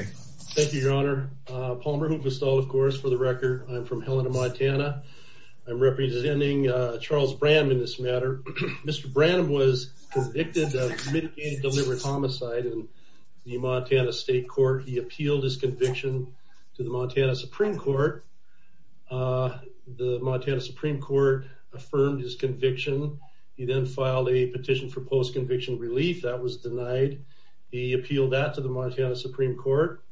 Thank you your honor. Palmer Hufesthal, of course, for the record. I'm from Helena, Montana. I'm representing Charles Branham in this matter. Mr. Branham was convicted of mitigated delivered homicide in the Montana State Court. He appealed his conviction to the Montana Supreme Court. The Montana Supreme Court affirmed his conviction. He then filed a petition for post-conviction relief that was denied. He appealed that to the Montana Supreme Court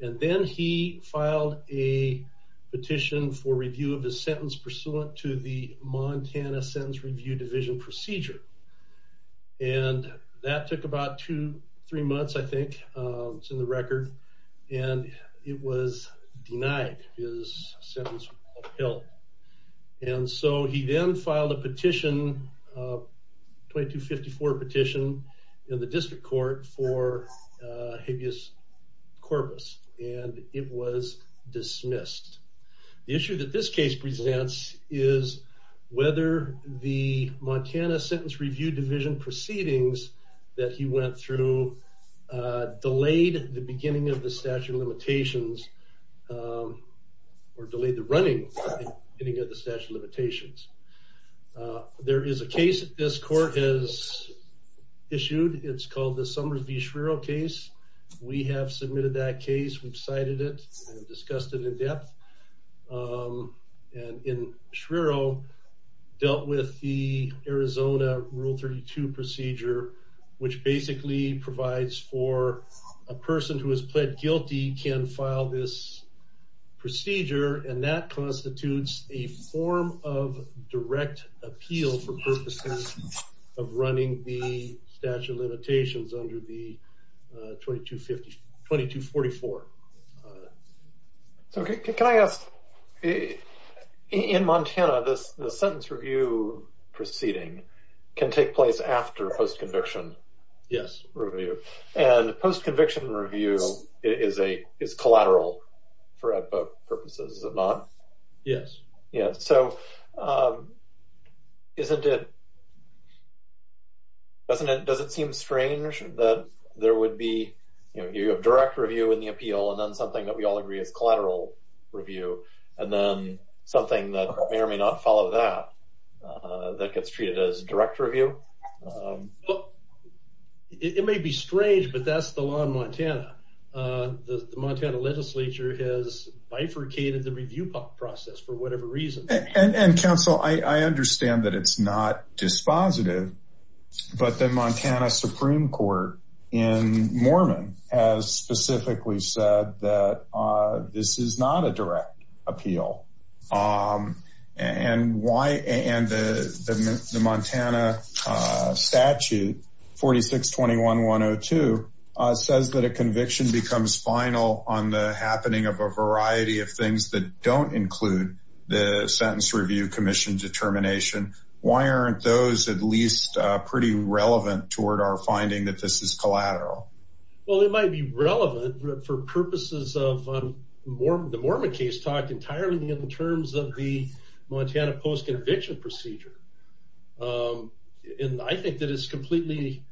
and then he filed a petition for review of his sentence pursuant to the Montana Sentence Review Division procedure. And that took about two, three months I think. It's in the record. And it was denied. His sentence was upheld. And so he then filed a petition, 2254 petition, in the court for habeas corpus. And it was dismissed. The issue that this case presents is whether the Montana Sentence Review Division proceedings that he went through delayed the beginning of the statute of limitations or delayed the running beginning of the statute of limitations. There is a case that this is called the Summers v. Schreiro case. We have submitted that case. We've cited it and discussed it in depth. And Schreiro dealt with the Arizona Rule 32 procedure which basically provides for a person who has pled guilty can file this procedure. And that constitutes a form of direct appeal for purposes of running the statute of limitations under the 2244. So, can I ask, in Montana, the sentence review proceeding can take place after post-conviction review. And post-conviction review is collateral for both purposes, is it not? Yes. Yeah, so, isn't it, doesn't it seem strange that there would be, you know, you have direct review in the appeal and then something that we all agree is collateral review and then something that may or may not follow that, that gets treated as direct review? It may be strange, but that's the law in Montana. The Montana Legislature has bifurcated the review process for whatever reason. And counsel, I understand that it's not dispositive, but the Montana Supreme Court in Mormon has specifically said that this is not a direct appeal. And the Montana statute 4621-102 says that a conviction becomes final on the happening of a variety of things that don't include the sentence review commission determination. Why aren't those at least pretty relevant toward our finding that this is collateral? Well, it might be relevant for purposes of, the Mormon case talked entirely in terms of the Montana post-conviction procedure. And I think that it's completely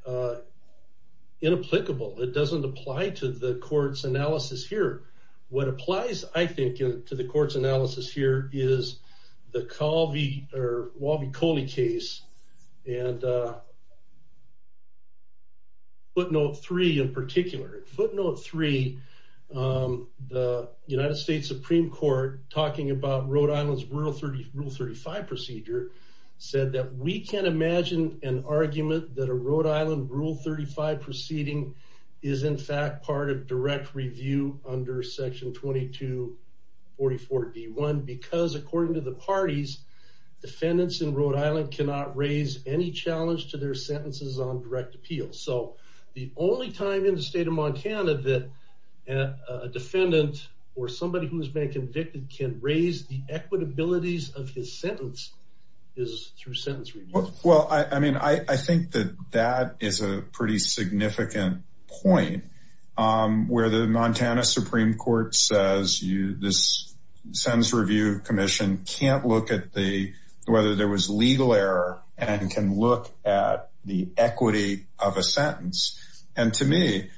inapplicable. It doesn't apply to the court's analysis here. What applies, I think, to the court's analysis here is the Walby-Coley case and footnote three in particular. Footnote three, the United States Supreme Court talking about Rhode Island's Rule 35 procedure said that we can't imagine an argument that a Rhode Island Rule 35 proceeding is in fact part of direct review under section 2244-D1 because according to the parties, defendants in Rhode Island cannot raise any challenge to their sentences on direct appeal. So the only time in the state of Montana that a defendant or somebody who has been convicted can raise the equitabilities of his sentence is through sentence review. Well, I mean, I think that that is a pretty significant point where the Montana Supreme Court says this sentence review commission can't look at whether there was legal error and can look at the equity of a sentence. And to me,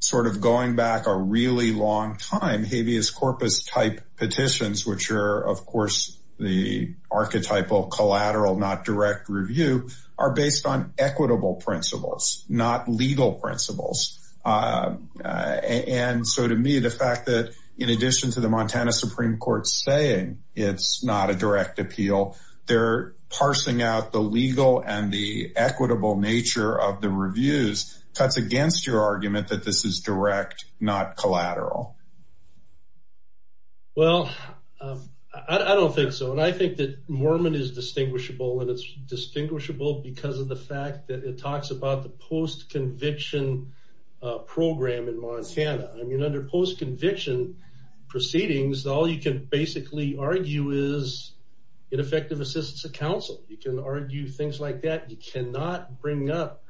sort of going back a really long time, habeas corpus type petitions, which are, of course, the archetypal collateral, not direct review, are based on equitable principles, not legal principles. And so to me, the fact that in addition to the Montana Supreme Court saying it's not a direct appeal, they're parsing out the legal and the equitable nature of the reviews cuts against your argument that this is direct, not collateral. Well, I don't think so. And I think that Mormon is distinguishable and it's distinguishable because of the fact that it talks about the post-conviction program in Montana. Under post-conviction proceedings, all you can basically argue is ineffective assistance of counsel. You can argue things like that. You cannot bring up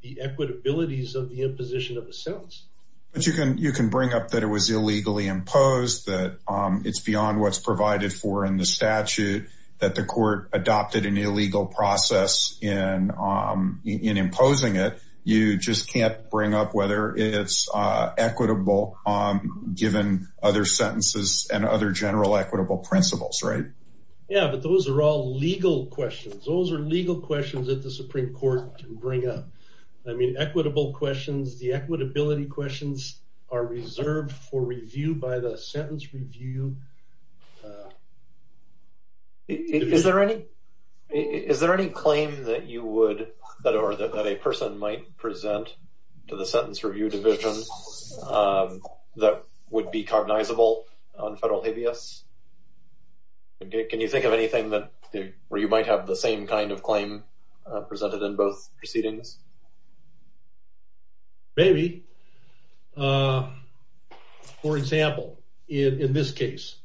the equitabilities of the imposition of a sentence. But you can bring up that it was illegally imposed, that it's beyond what's provided for in the statute, that the court adopted an illegal process in imposing it. You just can't bring up whether it's equitable given other sentences and other general equitable principles, right? Yeah, but those are all legal questions. Those are legal questions that the Supreme Court can bring up. I mean, equitable questions, the equitability questions are reserved for review by the sentence review. Is there any claim that you would, or that a person might present to the sentence review division that would be cognizable on federal habeas? Can you think of anything where you might have the same kind of claim presented in both proceedings? Maybe. For example, in this case,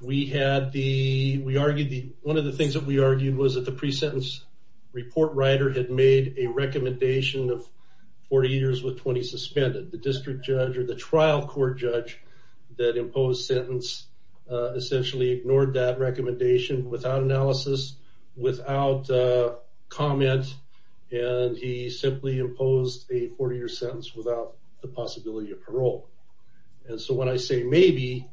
one of the things that we argued was that the pre-sentence report writer had made a recommendation of 40 years with 20 suspended. The district judge or the trial court judge that imposed sentence essentially ignored that recommendation without analysis, without comment, and he simply imposed a 40-year sentence without the possibility of parole. And so when I say maybe,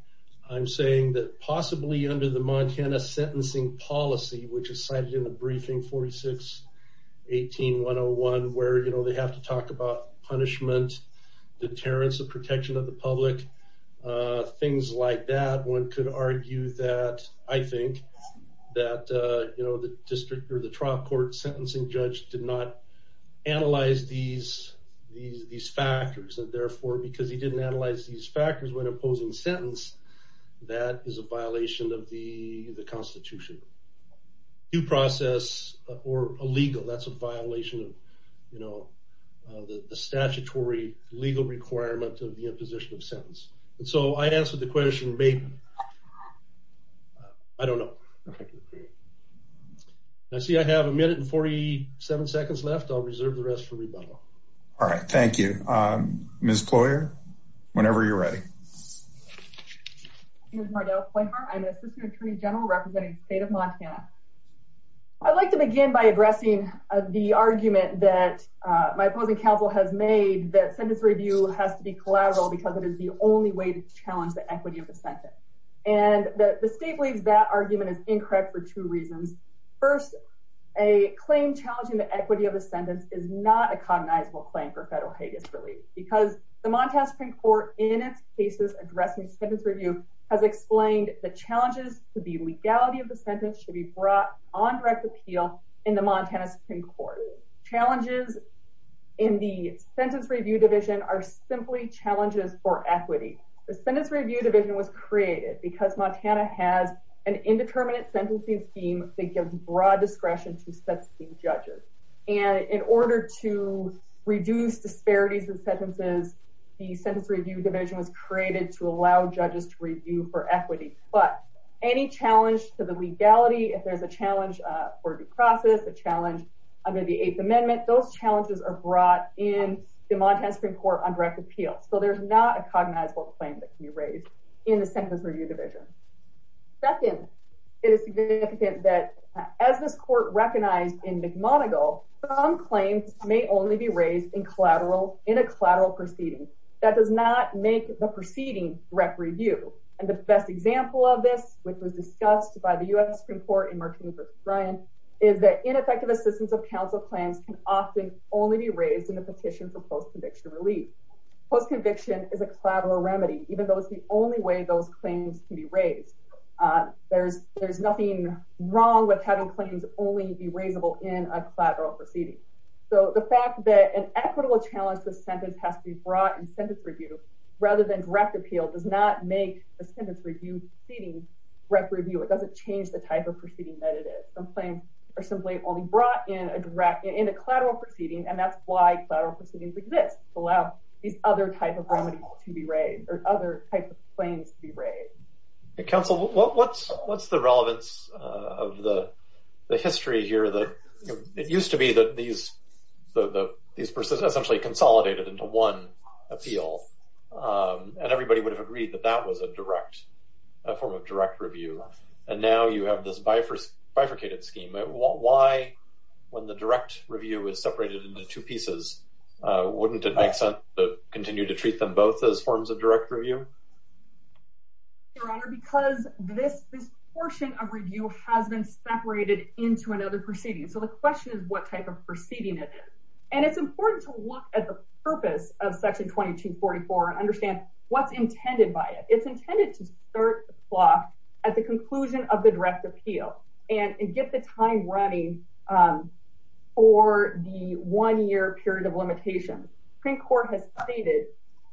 I'm saying that possibly under the Montana sentencing policy, which is cited in the briefing 46-18-101, where they have to talk about punishment, deterrence of protection of the public, things like that, one could argue that, I think, that the district or the trial court sentencing judge did not analyze these factors, and therefore because he didn't analyze these factors when imposing sentence, that is a violation of the Constitution. Due process or illegal, that's a violation of the statutory legal requirement of the imposition of sentence. And so I answered the question maybe. I don't know. Thank you. I see I have a minute and 47 seconds left. I'll reserve the rest for rebuttal. All right. Thank you. Ms. Ployer, whenever you're ready. My name is Mardell Ployer. I'm an assistant attorney general representing the state of Montana. I'd like to begin by addressing the argument that my opposing counsel has made that sentence review has to be collateral because it is the only way to challenge the equity of the sentence. And the state believes that argument is incorrect for two reasons. First, a claim challenging the equity of the sentence is not a cognizable claim for federal Hague's relief because the Montana Supreme Court in its cases addressing sentence review has explained the challenges to the legality of the sentence should be brought on direct appeal in the Montana Supreme Court. Challenges in the sentence review division are simply challenges for equity. The sentence review division was created because Montana has an indeterminate sentencing scheme that gives broad discretion to sentencing judges. And in order to reduce disparities in sentences, the sentence review division was created to allow judges to review for equity. But any challenge to the legality if there's a challenge for due process, a challenge under the Eighth Amendment, those challenges are brought in the Montana Supreme Court on direct appeal. So there's not a cognizable claim that can be raised in the sentence review division. Second, it is significant that as this court recognized in McMonigle, some claims may only be raised in a collateral proceeding. That does not make the proceeding direct review. And the best example of this, which was discussed by the U.S. Supreme Court in Martins v. Bryan is that ineffective assistance of counsel plans can often only be raised in a petition for post-conviction relief. Post-conviction is a collateral remedy, even though it's the only way those claims can be raised. There's nothing wrong with having claims only be raisable in a collateral proceeding. So the fact that an equitable challenge to the sentence has to be brought in sentence review rather than direct appeal does not make the sentence review proceeding direct review. It doesn't change the type of proceeding that it is. Some claims are simply only brought in in a collateral proceeding, and that's why collateral proceedings exist, to allow these other types of remedies to be raised, or other types of claims to be raised. Counsel, what's the relevance of the history here? It used to be that these essentially consolidated into one appeal. And everybody would have agreed that that was a direct form of direct review. And now you have this bifurcated scheme. Why, when the direct review is separated into two pieces, wouldn't it make sense to continue to treat them both as forms of direct review? Your Honor, because this portion of review has been separated into another proceeding. So the question is what type of proceeding it is. And it's important to look at the purpose of Section 2244 and understand what's intended by it. It's intended to start the plot at the conclusion of the direct appeal, and get the time running for the one-year period of limitation. Supreme Court has stated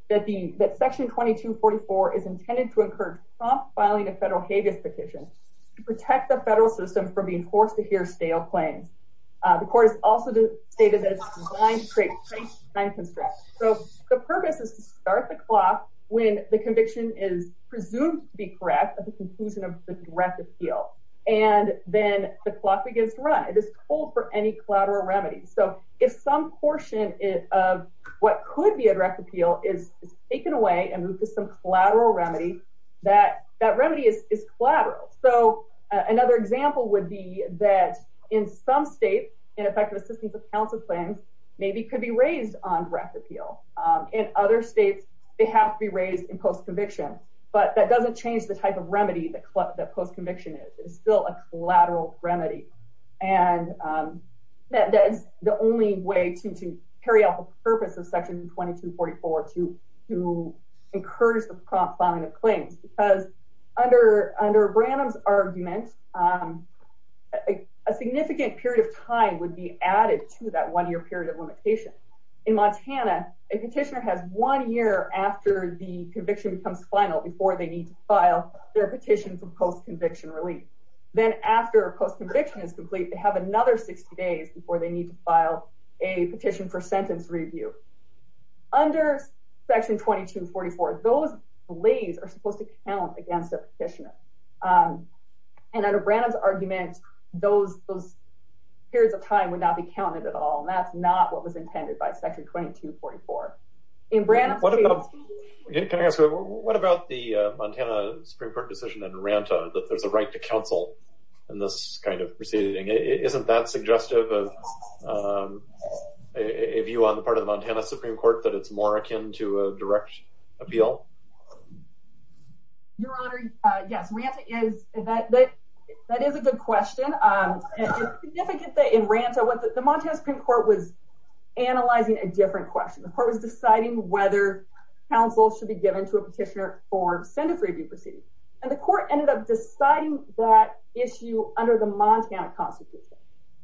that Section 2244 is intended to encourage prompt filing of federal habeas petitions to protect the federal system from being forced to hear stale claims. The Court has also stated that it's designed to create time constraints. So the purpose is to start the plot when the conviction is presumed to be correct at the conclusion of the direct appeal. And then the plot begins to run. It is cold for any collateral remedy. So if some portion of what could be a direct appeal is taken away and moved to some collateral remedy, that remedy is collateral. So another example would be that in some states, ineffective assistance of counsel claims maybe could be raised on direct appeal. In other states, they have to be raised in post-conviction. But that doesn't change the type of remedy that post-conviction is. It's still a collateral remedy. That is the only way to carry out the purpose of Section 2244 to encourage the prompt filing of claims. Because under Branham's argument, a significant period of time would be added to that one-year period of limitation. In Montana, a petitioner has one year after the conviction becomes final before they need to file their petition for post-conviction relief. Then after a post-conviction is complete, they have another 60 days before they need to file a petition for sentence review. Under Section 2244, those delays are supposed to count against a petitioner. And under Branham's argument, those periods of time would not be counted at all. And that's not what was intended by Section 2244. Can I ask, what about the Montana Supreme Court decision in Ranta that there's a right to counsel in this kind of proceeding? Isn't that suggestive of a view on the part of the Montana Supreme Court that it's more akin to a direct appeal? Yes, Ranta is. That is a good question. It's significant that in Ranta, the Montana Supreme Court was deciding whether counsel should be given to a petitioner for sentence review proceedings. And the court ended up deciding that issue under the Montana Constitution.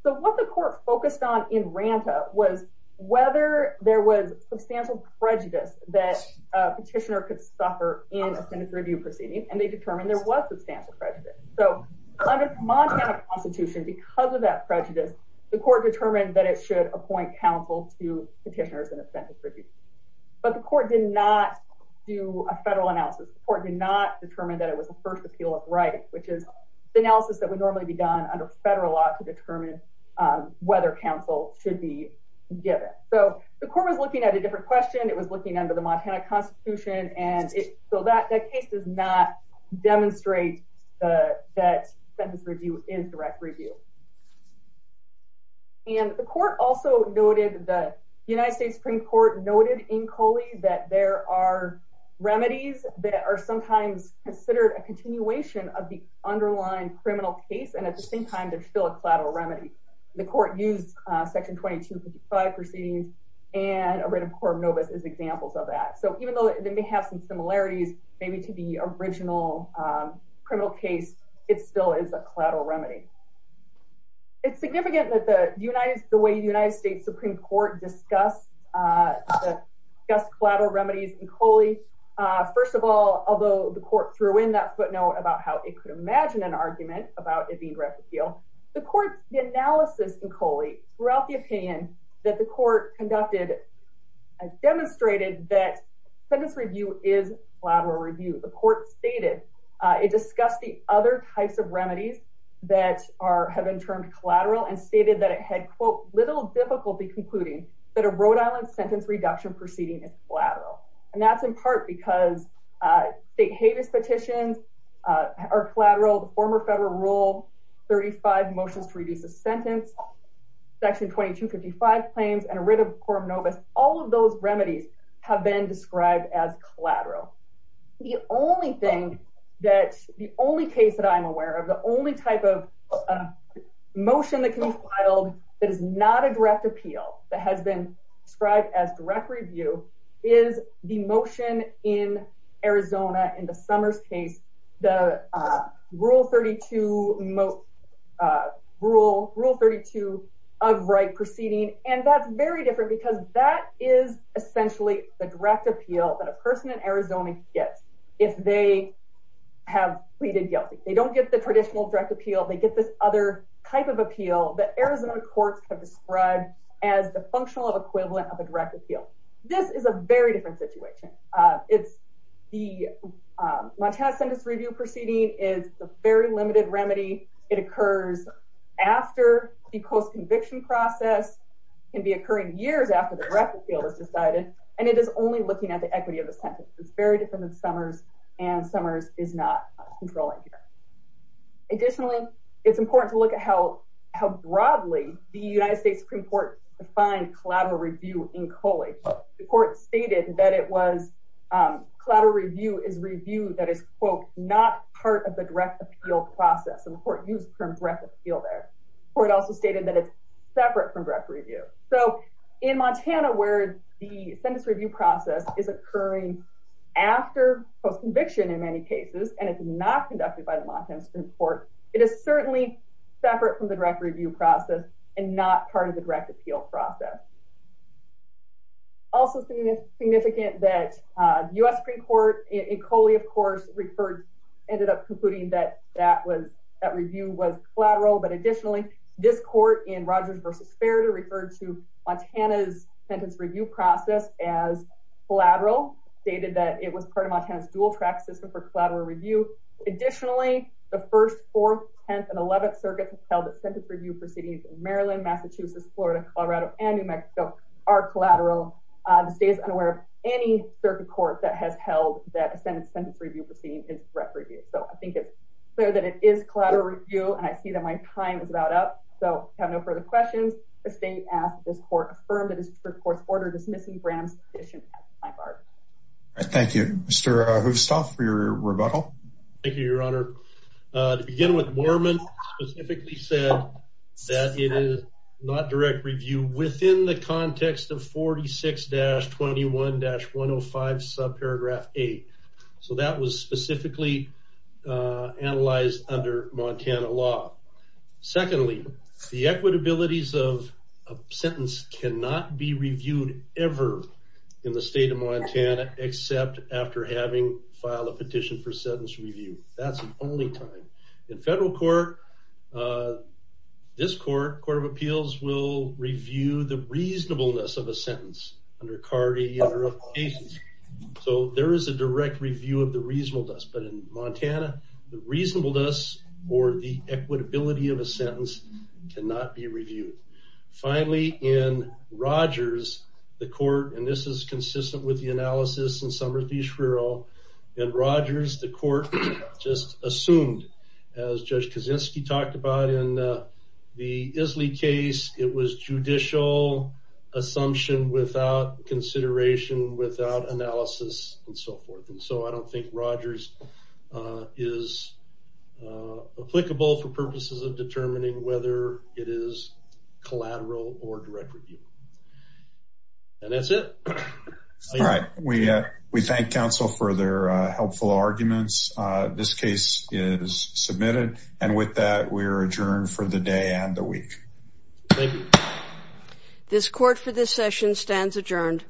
So what the court focused on in Ranta was whether there was substantial prejudice that a petitioner could suffer in a sentence review proceeding. And they determined there was substantial prejudice. So under the Montana Constitution, because of that prejudice, the court determined that it should appoint counsel to petitioners in a sentence review. But the court did not do a federal analysis. The court did not determine that it was a first appeal of right, which is the analysis that would normally be done under federal law to determine whether counsel should be given. So the court was looking at a different question. It was looking under the Montana Constitution. So that case does not demonstrate that sentence review is direct review. And the court also noted that the United States Supreme Court noted in Coley that there are remedies that are sometimes considered a continuation of the underlying criminal case. And at the same time, they're still a collateral remedy. The court used Section 2255 proceedings and a written court notice as examples of that. So even though they may have some similarities maybe to the original criminal case, it still is a collateral remedy. It's significant that the way the United States Supreme Court discussed collateral remedies in Coley, first of all, although the court threw in that footnote about how it could imagine an argument about it being direct appeal, the analysis in Coley throughout the opinion that the court conducted demonstrated that sentence review is collateral review. The court stated it discussed the other types of remedies that have been termed collateral and stated that it had, quote, little difficulty concluding that a Rhode Island sentence reduction proceeding is collateral. And that's in part because state habeas petitions are collateral, the former federal rule, 35 motions to reduce a sentence, Section 2255 claims, and a written court notice. All of those remedies have been described as collateral. The only thing that, the only case that I'm aware of, the only type of motion that can be filed that is not a direct appeal that has been described as direct review is the motion in Arizona in the Summers case, the Rule 32 of right proceeding, and that's very different because that is essentially the direct appeal that a person in Arizona gets if they have pleaded guilty. They don't get the traditional direct appeal, they get this other type of appeal that Arizona courts have described as the functional equivalent of a direct appeal. This is a very different situation. It's the Montana sentence review proceeding is a very limited remedy. It occurs after the post-conviction process, can be occurring years after the direct appeal is decided, and it is only looking at the equity of the sentence. It's very different than Summers, and Summers is not controlling here. Additionally, it's important to look at how broadly the United States Supreme Court defined collateral review in Coley. The court stated that it was, collateral review is review that is, quote, not part of the direct appeal process. The court used the term direct appeal there. The court also stated that it's separate from direct review. So, in Montana, where the sentence review process is occurring after post-conviction in many cases, and it's not conducted by the Montana Supreme Court, it is certainly separate from the direct review process and not part of the direct appeal process. Also significant that the U.S. Supreme Court in Coley, of course, referred, ended up concluding that that review was collateral, but additionally this court in Rogers v. Sparitor referred to Montana's sentence review process as collateral, stated that it was part of Montana's dual track system for collateral review. Additionally, the 1st, 4th, 10th, and 11th circuits held that sentence review proceedings in Maryland, Massachusetts, Florida, Colorado, and New Mexico are collateral. The state is unaware of any circuit court that has held that sentence review proceedings as direct review. So, I think it's clear that it is collateral review, and I see that my time is about up. So, if you have no further questions, the state asks that this court affirm that this court's order dismissing Bram's petition at this time. Thank you. Mr. Hoofstall, for your rebuttal. Thank you, Your Honor. To begin with, Moorman specifically said that it is not direct review within the context of 46-21-105 subparagraph 8. So, that was specifically analyzed under Montana law. Secondly, the equitabilities of a sentence cannot be reviewed ever in the state of Montana except after having filed a petition for sentence review. That's the only time. In federal court, this court, Court of Appeals, will review the reasonableness of a sentence under CARDI and other applications. So, there is a direct review of the reasonableness, but in Montana, the reasonableness or the equitability of a sentence cannot be reviewed. Finally, in Rogers, the court, and this is consistent with the analysis in Somersee Shrural, in Rogers, the court just assumed, as Judge Kaczynski talked about in the Isley case, it was judicial assumption without consideration, without analysis, and so forth. So, I don't think Rogers is applicable for purposes of determining whether it is collateral or direct review. And that's it. We thank counsel for their helpful arguments. This case is submitted, and with that, we are adjourned for the day and the week. Thank you. This court for this session stands adjourned.